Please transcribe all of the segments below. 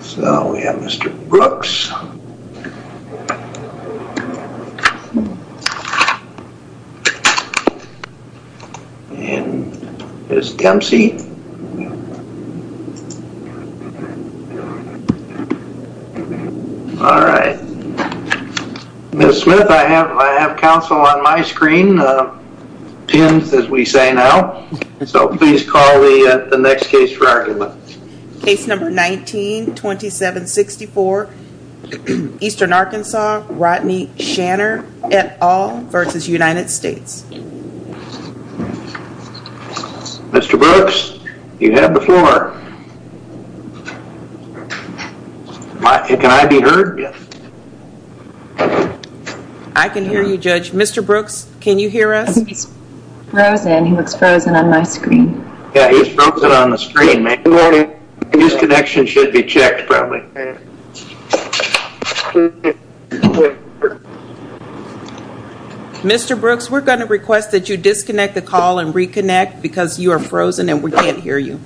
So we have Mr. Brooks and Ms. Dempsey. Ms. Smith, I have counsel on my screen, pinned as we say now, so please call the next case for argument. Case number 19-2764, Eastern Arkansas, Rodney Shanner et al. v. United States. Mr. Brooks, you have the floor. Can I be heard? I can hear you, Judge. Mr. Brooks, can you hear us? He's frozen. He looks frozen on my screen. Yeah, he's frozen on the screen, ma'am. Good morning. His connection should be checked, probably. Mr. Brooks, we're going to request that you disconnect the call and reconnect because you are frozen and we can't hear you.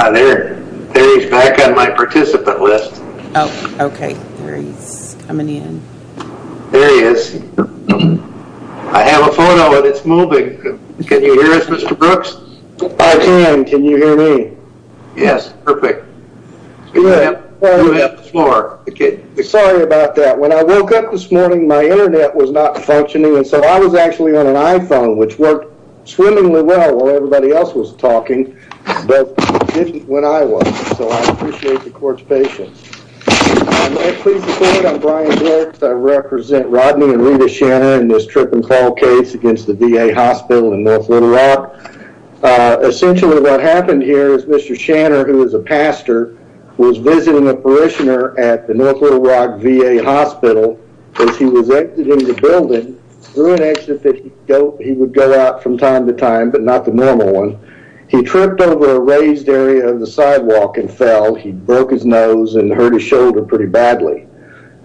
Hi there, there he's back on my participant list. Oh, okay. There he's coming in. There he is. I have a photo and it's moving. Can you hear us, Mr. Brooks? I can. Can you hear me? Yes. Perfect. Good. You have the floor. Sorry about that. When I woke up this morning, my internet was not functioning, and so I was actually on an iPhone, which worked swimmingly well while everybody else was talking, but didn't when I was. So I appreciate the court's patience. Please be seated. I'm Brian Brooks. I represent Rodney and Rita Shanna in this trip and call case against the VA Hospital in North Little Rock. Essentially, what happened here is Mr. Shanna, who is a pastor, was visiting a parishioner at the North Little Rock VA Hospital as he was exiting the building through an exit that he would go out from time to time, but not the normal one. He tripped over a raised area of the sidewalk and fell. He broke his nose and hurt his shoulder pretty badly.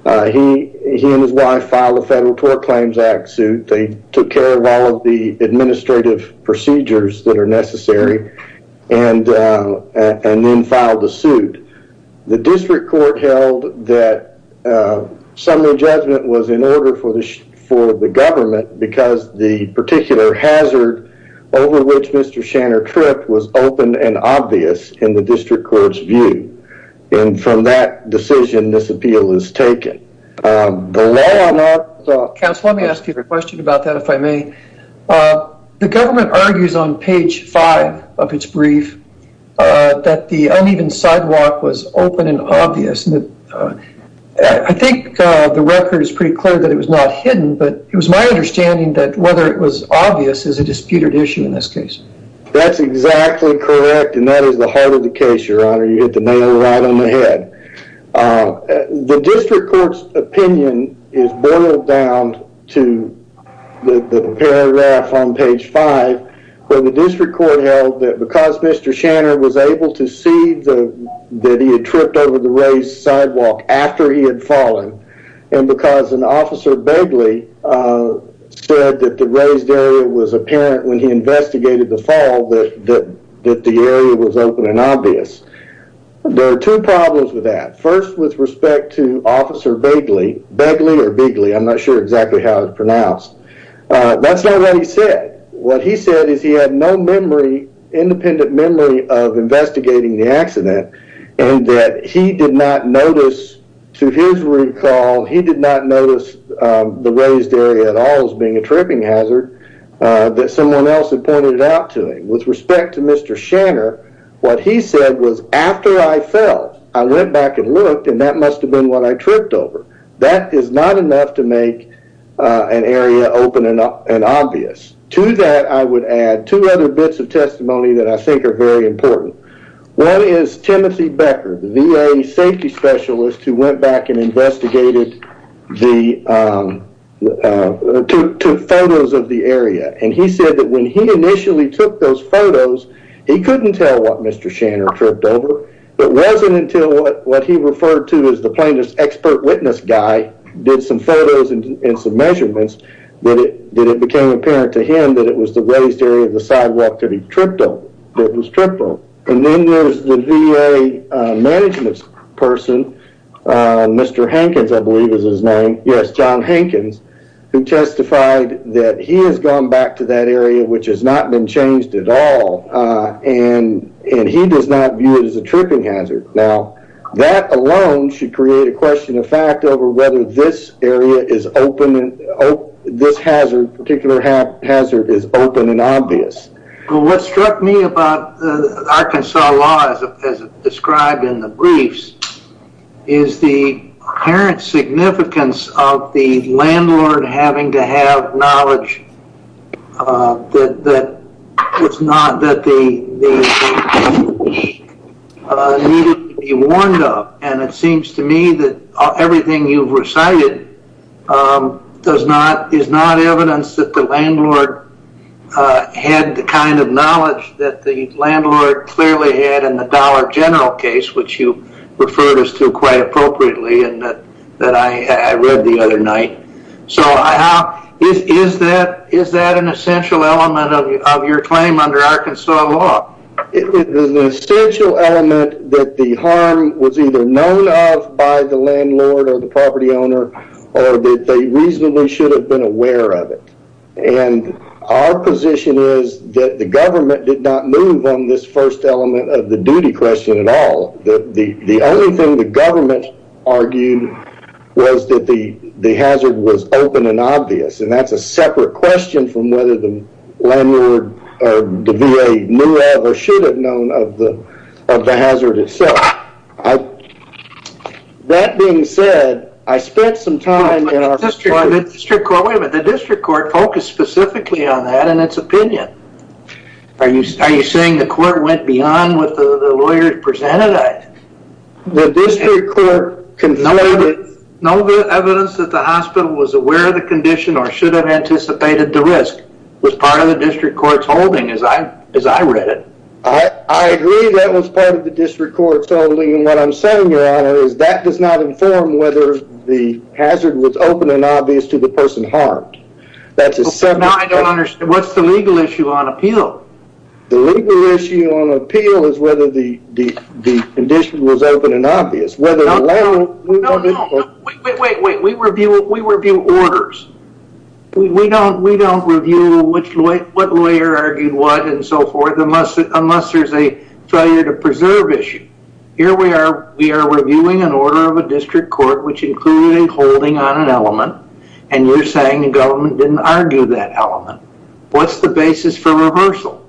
He and his wife filed a Federal Tort Claims Act suit. They took care of all of the administrative procedures that are necessary and then filed the suit. The district court held that some of the judgment was in order for the government because the particular hazard over which Mr. Shanna tripped was open and obvious in the district court's view. And from that decision, this appeal is taken. The law on our side... Counsel, let me ask you a question about that, if I may. The government argues on page five of its brief that the uneven sidewalk was open and obvious. I think the record is pretty clear that it was not hidden, but it was my understanding that whether it was obvious is a disputed issue in this case. That's exactly correct. And that is the heart of the case, Your Honor. You hit the nail right on the head. The district court's opinion is boiled down to the paragraph on page five where the district court held that because Mr. Shanna was able to see that he had tripped over the raised sidewalk after he had fallen, and because an officer said that the raised area was apparent when he investigated the fall, that the area was open and obvious. There are two problems with that. First with respect to Officer Begley, Begley or Begley, I'm not sure exactly how it's pronounced. That's not what he said. What he said is he had no memory, independent memory of investigating the accident and that he did not notice to his recall, he did not notice the raised area at all as being a tripping hazard that someone else had pointed out to him. With respect to Mr. Shanna, what he said was after I fell, I went back and looked and that must have been what I tripped over. That is not enough to make an area open and obvious. To that, I would add two other bits of testimony that I think are very important. One is Timothy Becker, the VA safety specialist who went back and investigated the, took photos of the area. He said that when he initially took those photos, he couldn't tell what Mr. Shanna tripped over. It wasn't until what he referred to as the plaintiff's expert witness guy did some photos and some measurements that it became apparent to him that it was the raised area of the sidewalk that he tripped over, that it was tripped over. Then there's the VA management person, Mr. Hankins, I believe is his name. Yes, John Hankins, who testified that he has gone back to that area which has not been changed at all and he does not view it as a tripping hazard. Now, that alone should create a question of fact over whether this area is open, this hazard, particular hazard is open and obvious. What struck me about the Arkansas law as described in the briefs is the apparent significance of the landlord having to have knowledge that was not, that they needed to be warned of. It seems to me that everything you've recited does not, is not evidence that the landlord had the kind of knowledge that the landlord clearly had in the Dollar General case, which you referred us to quite appropriately and that I read the other night. Is that an essential element of your claim under Arkansas law? It is an essential element that the harm was either known of by the landlord or the property owner or that they reasonably should have been aware of it. Our position is that the government did not move on this first element of the duty question at all. The only thing the government argued was that the hazard was open and obvious and that's a separate question from whether the landlord or the VA knew of or should have known of the hazard itself. That being said, I spent some time with the district court, wait a minute, the district court focused specifically on that and its opinion. Are you saying the court went beyond what the lawyers presented? The district court concluded that no evidence that the hospital was aware of the condition or should have anticipated the risk was part of the district court's holding as I read it. I agree that was part of the district court's holding and what I'm saying, your honor, is that does not inform whether the hazard was open and obvious to the person harmed. That's a separate question. Now I don't understand. What's the legal issue on appeal? The legal issue on appeal is whether the condition was open and obvious, whether the landlord or... No, no, no. Wait, wait, wait. We review orders. We don't review what lawyer argued what and so forth unless there's a failure to preserve issue. Here we are, we are reviewing an order of a district court which included a holding on an element and you're saying the government didn't argue that element. What's the basis for reversal?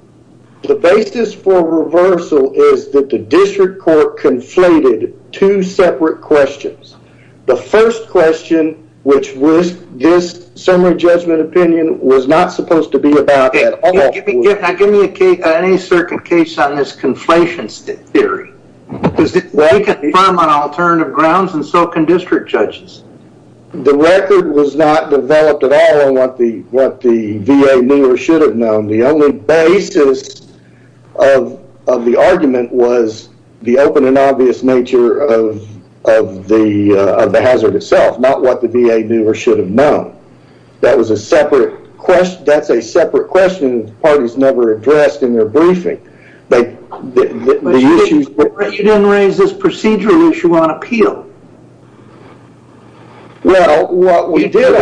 The basis for reversal is that the district court conflated two separate questions. The first question, which was this summary judgment opinion, was not supposed to be about at all. Give me a case, any certain case on this conflation theory because we can confirm on alternative grounds and so can district judges. The record was not developed at all on what the VA knew or should have known. The only basis of the argument was the open and obvious nature of the hazard itself, not what the VA knew or should have known. That was a separate question, that's a separate question the parties never addressed in their briefing. The issues... But you didn't raise this procedural issue on appeal. Well, what we did...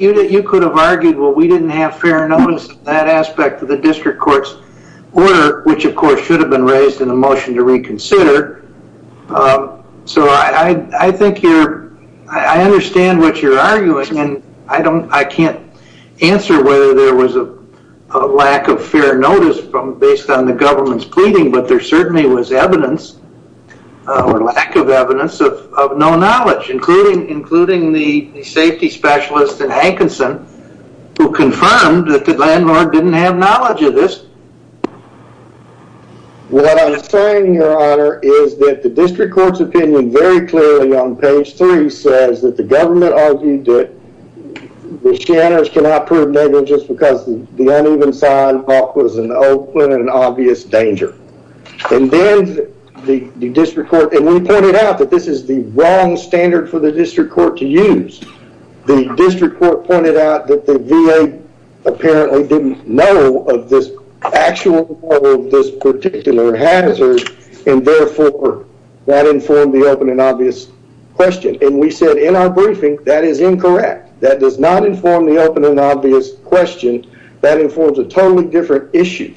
You could have argued, well, we didn't have fair notice of that aspect of the district court's order, which of course should have been raised in the motion to reconsider. I think you're... I understand what you're arguing and I can't answer whether there was a lack of fair notice based on the government's pleading, but there certainly was evidence or lack of evidence of no knowledge, including the safety specialist in Hankinson who confirmed that the landlord didn't have knowledge of this. What I'm saying, your honor, is that the district court's opinion very clearly on page three says that the government argued that the shanners cannot prove negligence because the uneven sidewalk was an open and obvious danger. And then the district court... And we pointed out that this is the wrong standard for the district court to use. The district court pointed out that the VA apparently didn't know of this actual model of this particular hazard and therefore that informed the open and obvious question. And we said in our briefing, that is incorrect. That does not inform the open and obvious question. That informs a totally different issue.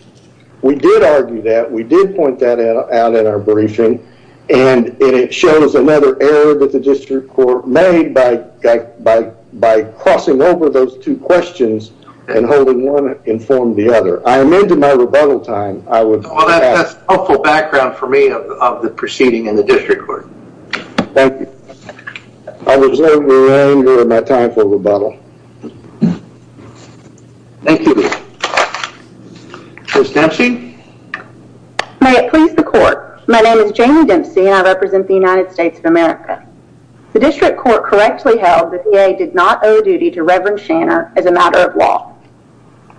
We did argue that. We did point that out in our briefing and it shows another error that the district court made by crossing over those two questions and holding one informed the other. I am into my rebuttal time. I would... Well, that's helpful background for me of the proceeding in the district court. Thank you. I reserve your honor and my time for rebuttal. Thank you. Ms. Dempsey. May it please the court. My name is Jamie Dempsey and I represent the United States of America. The district court correctly held that the VA did not owe a duty to Reverend Shanner as a matter of law.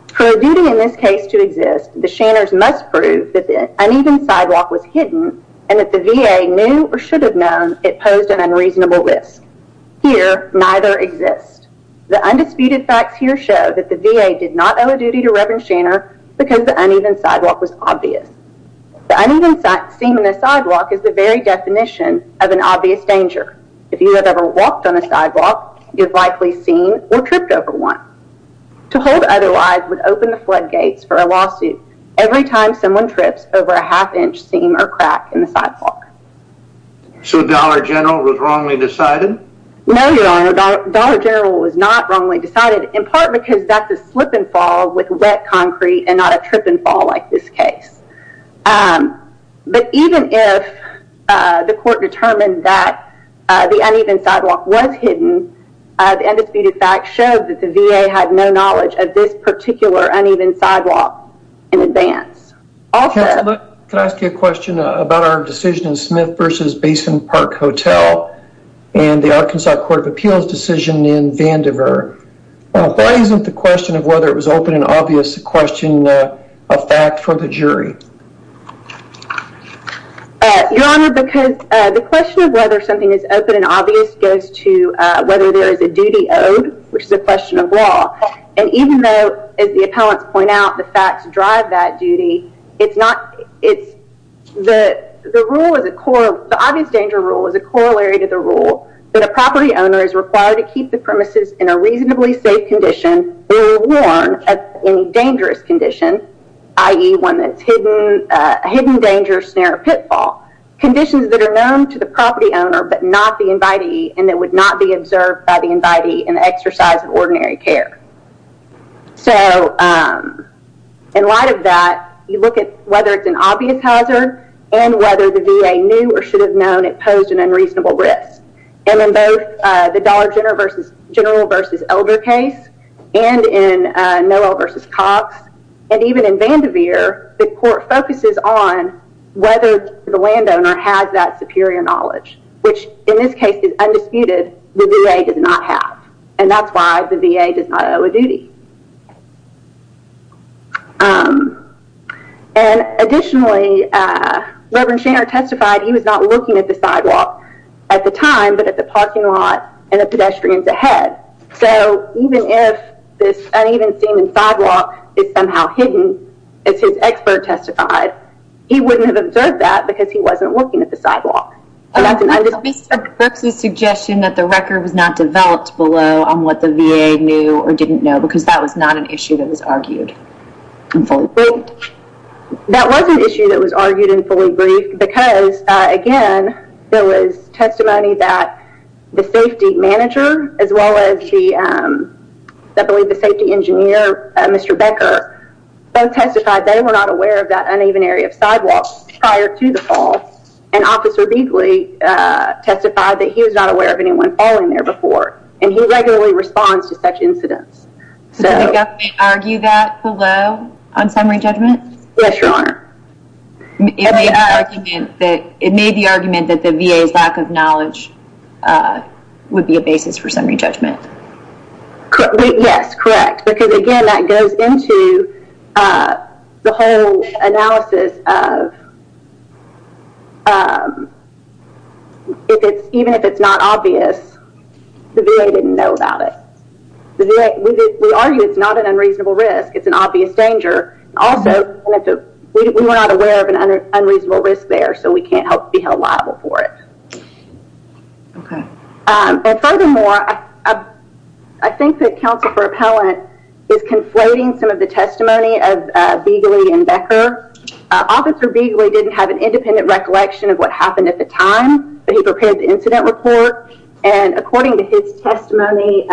For a duty in this case to exist, the shanners must prove that the uneven sidewalk was hidden and that the VA knew or should have known it posed an unreasonable risk. Here, neither exist. The undisputed facts here show that the VA did not owe a duty to Reverend Shanner because the uneven sidewalk was obvious. The uneven seam in the sidewalk is the very definition of an obvious danger. If you have ever walked on a sidewalk, you've likely seen or tripped over one. To hold otherwise would open the floodgates for a lawsuit every time someone trips over a half-inch seam or crack in the sidewalk. So Dollar General was wrongly decided? No, your honor, Dollar General was not wrongly decided in part because that's a slip and concrete and not a trip and fall like this case. But even if the court determined that the uneven sidewalk was hidden, the undisputed facts show that the VA had no knowledge of this particular uneven sidewalk in advance. Counselor, could I ask you a question about our decision in Smith vs. Basin Park Hotel and the Arkansas Court of Appeals decision in Vandiver? Why isn't the question of whether it was open and obvious a question of fact for the jury? Your honor, because the question of whether something is open and obvious goes to whether there is a duty owed, which is a question of law. And even though, as the appellants point out, the facts drive that duty, it's not, it's, the rule is a core, the obvious danger rule is a corollary to the rule that a property owner is required to keep the premises in a reasonably safe condition or warm in a dangerous condition, i.e. one that's hidden, a hidden danger, snare, or pitfall. Conditions that are known to the property owner but not the invitee and that would not be observed by the invitee in the exercise of ordinary care. So, in light of that, you look at whether it's an obvious hazard and whether the VA knew or should have known it posed an unreasonable risk. And in both the Dollar General v. Elder case and in Noel v. Cox and even in Vandiver, the court focuses on whether the landowner had that superior knowledge, which in this case is undisputed, the VA does not have. And that's why the VA does not owe a duty. And additionally, Reverend Shaner testified he was not looking at the sidewalk at the time but at the parking lot and the pedestrians ahead. So, even if this uneven standing sidewalk is somehow hidden, as his expert testified, he wouldn't have observed that because he wasn't looking at the sidewalk. And that's an understatement. Perhaps a suggestion that the record was not developed below on what the VA knew or didn't know because that was not an issue that was argued and fully briefed. That was an issue that was argued and fully briefed because, again, there was testimony that the safety manager as well as the, I believe, the safety engineer, Mr. Becker, both testified they were not aware of that uneven area of sidewalk prior to the fall. And Officer Beegley testified that he was not aware of anyone falling there before. And he regularly responds to such incidents. Did the government argue that below on summary judgment? Yes, Your Honor. It made the argument that the VA's lack of knowledge would be a basis for summary judgment. Yes, correct. Because, again, that goes into the whole analysis of even if it's not obvious, the VA didn't know about it. The VA, we argue it's not an unreasonable risk. It's an obvious danger. Also, we were not aware of an unreasonable risk there, so we can't help be held liable for it. Okay. And furthermore, I think that Counsel for Appellant is conflating some of the testimony of Beegley and Becker. Officer Beegley didn't have an independent recollection of what happened at the time, but he prepared the incident report. And according to his testimony,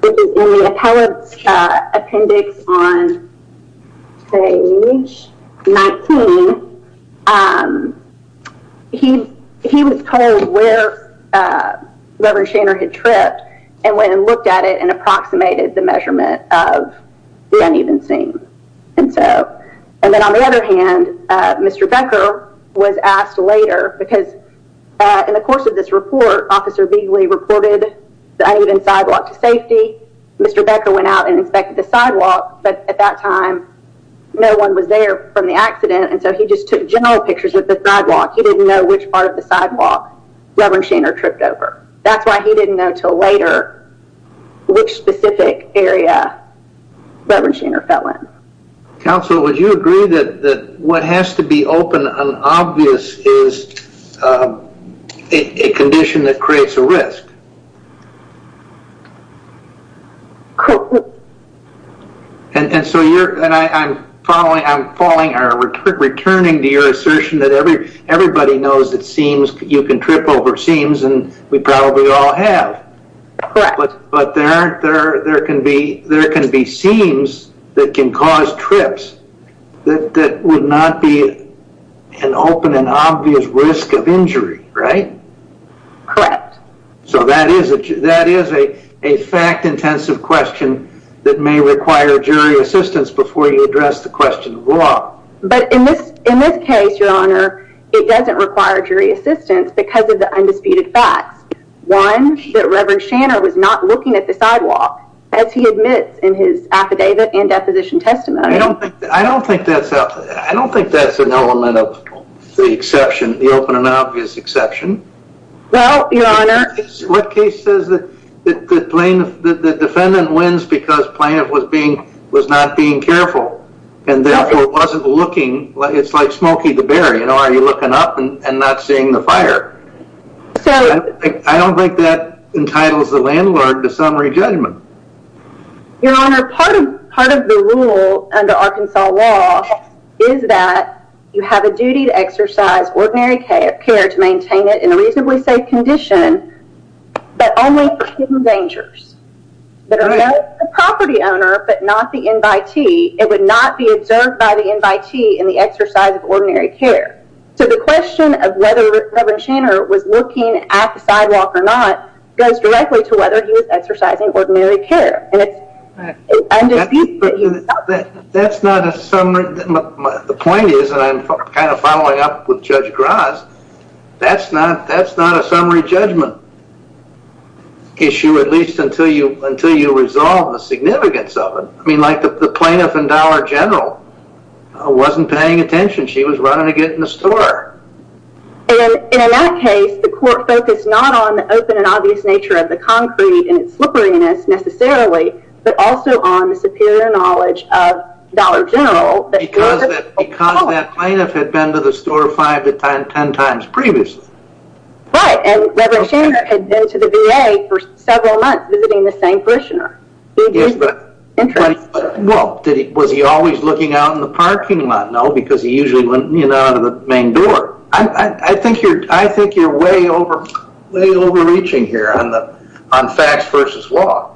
which is in the appellant's appendix on page 19, he was told where Reverend Shaner had tripped and went and looked at it and approximated the measurement of the uneven scene. And then on the other hand, Mr. Becker was asked later, because in the course of this report, Officer Beegley reported the uneven sidewalk to safety. Mr. Becker went out and inspected the sidewalk, but at that time, no one was there from the accident, and so he just took general pictures of the sidewalk. He didn't know which part of the sidewalk Reverend Shaner tripped over. That's why he didn't know until later which specific area Reverend Shaner fell in. Counsel, would you agree that what has to be open and obvious is a condition that creates a risk? And so I'm returning to your assertion that everybody knows that you can trip over seams, and we probably all have. But there can be seams that can cause trips that would not be an open and obvious risk of injury, right? Correct. So that is a fact-intensive question that may require jury assistance before you address the question of law. But in this case, Your Honor, it doesn't require jury assistance because of the undisputed facts. One, that Reverend Shaner was not looking at the sidewalk, as he admits in his affidavit and deposition testimony. I don't think that's an element of the exception, the open and obvious exception. What case says that the defendant wins because the plaintiff was not being careful and therefore wasn't looking? It's like Smokey the Bear. Are you looking up and not seeing the fire? I don't think that entitles the landlord to summary judgment. Your Honor, part of the rule under Arkansas law is that you have a duty to exercise ordinary care to maintain it in a reasonably safe condition, but only for hidden dangers that are known to the property owner but not the invitee. It would not be observed by the invitee in the exercise of ordinary care. So the question of whether Reverend Shaner was looking at the sidewalk or not goes directly to whether he was exercising ordinary care. And it's undisputed that he was not. That's not a summary. The point is, and I'm kind of following up with Judge Gras, that's not a summary judgment issue, at least until you resolve the significance of it. I mean, like the plaintiff in Dollar General wasn't paying attention. She was running to get in the store. And in that case, the court focused not on the open and obvious nature of the concrete and its slipperiness necessarily, but also on the superior knowledge of Dollar General. Because that plaintiff had been to the store five to ten times previously. Right, and Reverend Shaner had been to the VA for several months visiting the same parishioner. Well, was he always looking out in the parking lot? No, because he usually went out of the main door. I think you're way overreaching here on facts versus law.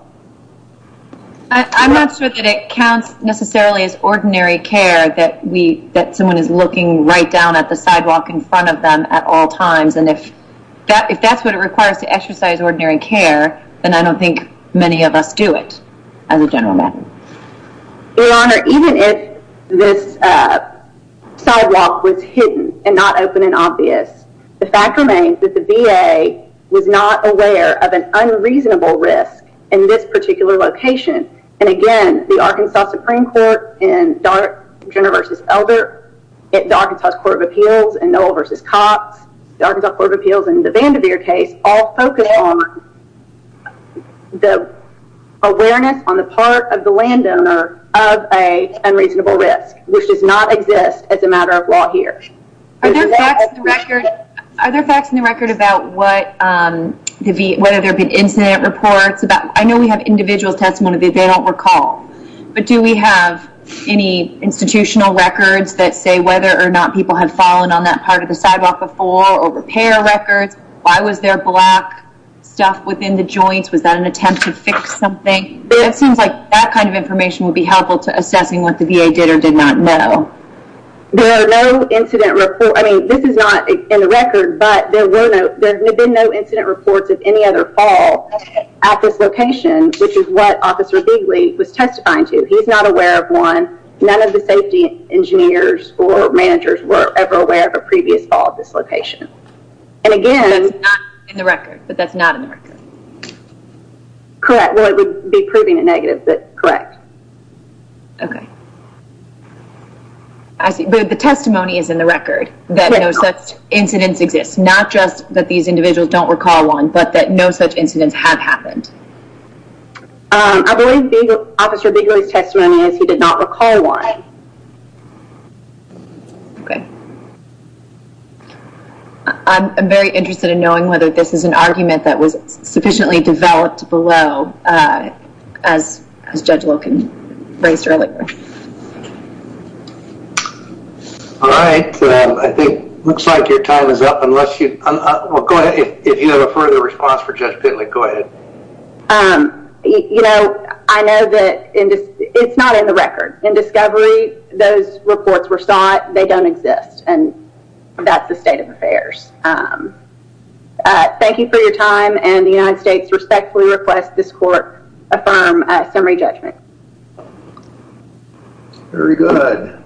I'm not sure that it counts necessarily as ordinary care that someone is looking right down at the sidewalk in front of them at all times. And if that's what it requires to exercise ordinary care, then I don't think many of us do it as a general matter. Your Honor, even if this sidewalk was hidden and not open and obvious, the fact remains that the VA was not aware of an unreasonable risk in this particular location. And again, the Arkansas Supreme Court in Dollar General v. Elder, the Arkansas Court of Appeals in Noll v. Cox, the Arkansas Court of Appeals in the Vanderveer case all focus on the awareness on the part of the landowner of an unreasonable risk, which does not exist as a matter of law here. Are there facts in the record about whether there have been incident reports? I know we have individual testimony that they don't recall. But do we have any institutional records that say whether or not people have fallen on that part of the sidewalk before or repair records? Why was there black stuff within the joints? Was that an attempt to fix something? It seems like that kind of information would be helpful to assessing what the VA did or did not know. There are no incident reports. I mean, this is not in the record, but there have been no incident reports of any other fall at this location, which is what Officer Bigley was testifying to. He's not aware of one. None of the safety engineers or managers were ever aware of a previous fall at this location. But that's not in the record? Correct. Well, it would be proving a negative, but correct. Okay. The testimony is in the record that no such incidents exist, not just that these individuals don't recall one, but that no such incidents have happened. I believe Officer Bigley's testimony is he did not recall one. Okay. I'm very interested in knowing whether this is an argument that was sufficiently developed below, as Judge Loken raised earlier. All right. I think it looks like your time is up unless you go ahead. If you have a further response for Judge Bigley, go ahead. You know, I know that it's not in the record. In discovery, those reports were sought. But they don't exist. And that's the state of affairs. Thank you for your time. And the United States respectfully request this court affirm summary judgment. Very good.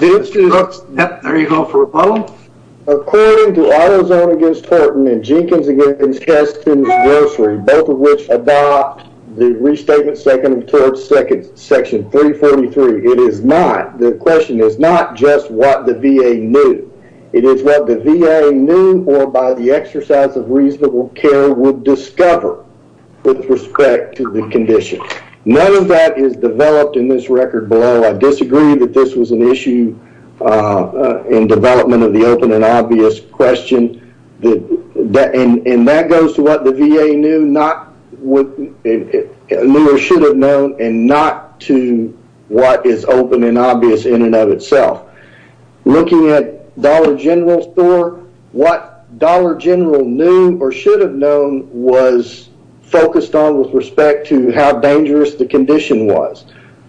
There you go for a follow-up. According to Autozone against Horton and Jenkins against Keston's Grocery, both of which adopt the restatement seconded towards section 343, it is not, the question is not just what the VA knew. It is what the VA knew or by the exercise of reasonable care would discover with respect to the condition. None of that is developed in this record below. I disagree that this was an issue in development of the open and obvious question. And that goes to what the VA knew or should have known and not to what is open and obvious in and of itself. Looking at Dollar General Store, what Dollar General knew or should have known was focused on with respect to how dangerous the condition was.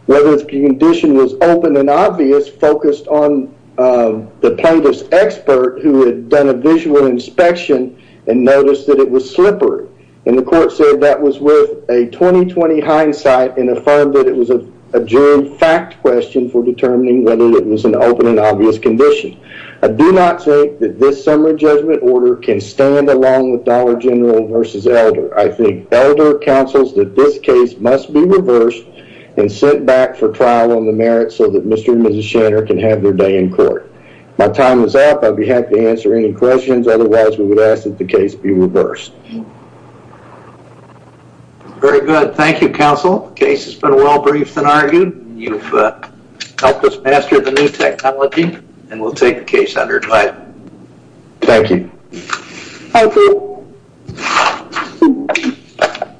Whether the condition was open and obvious focused on the plaintiff's expert who had done a visual inspection and noticed that it was slippery. And the court said that was worth a 20-20 hindsight and affirmed that it was a genuine fact question for determining whether it was an open and obvious condition. I do not think that this summary judgment order can stand along with Dollar General versus Elder. I think Elder counsels that this case must be reversed and sent back for trial on the merits so that Mr. and Mrs. Shanner can have their day in court. My time is up. I'd be happy to answer any questions. Otherwise, we would ask that the case be reversed. Very good. Thank you, counsel. The case has been well briefed and argued. You've helped us master the new technology and we'll take the case under advice. Thank you. Thank you.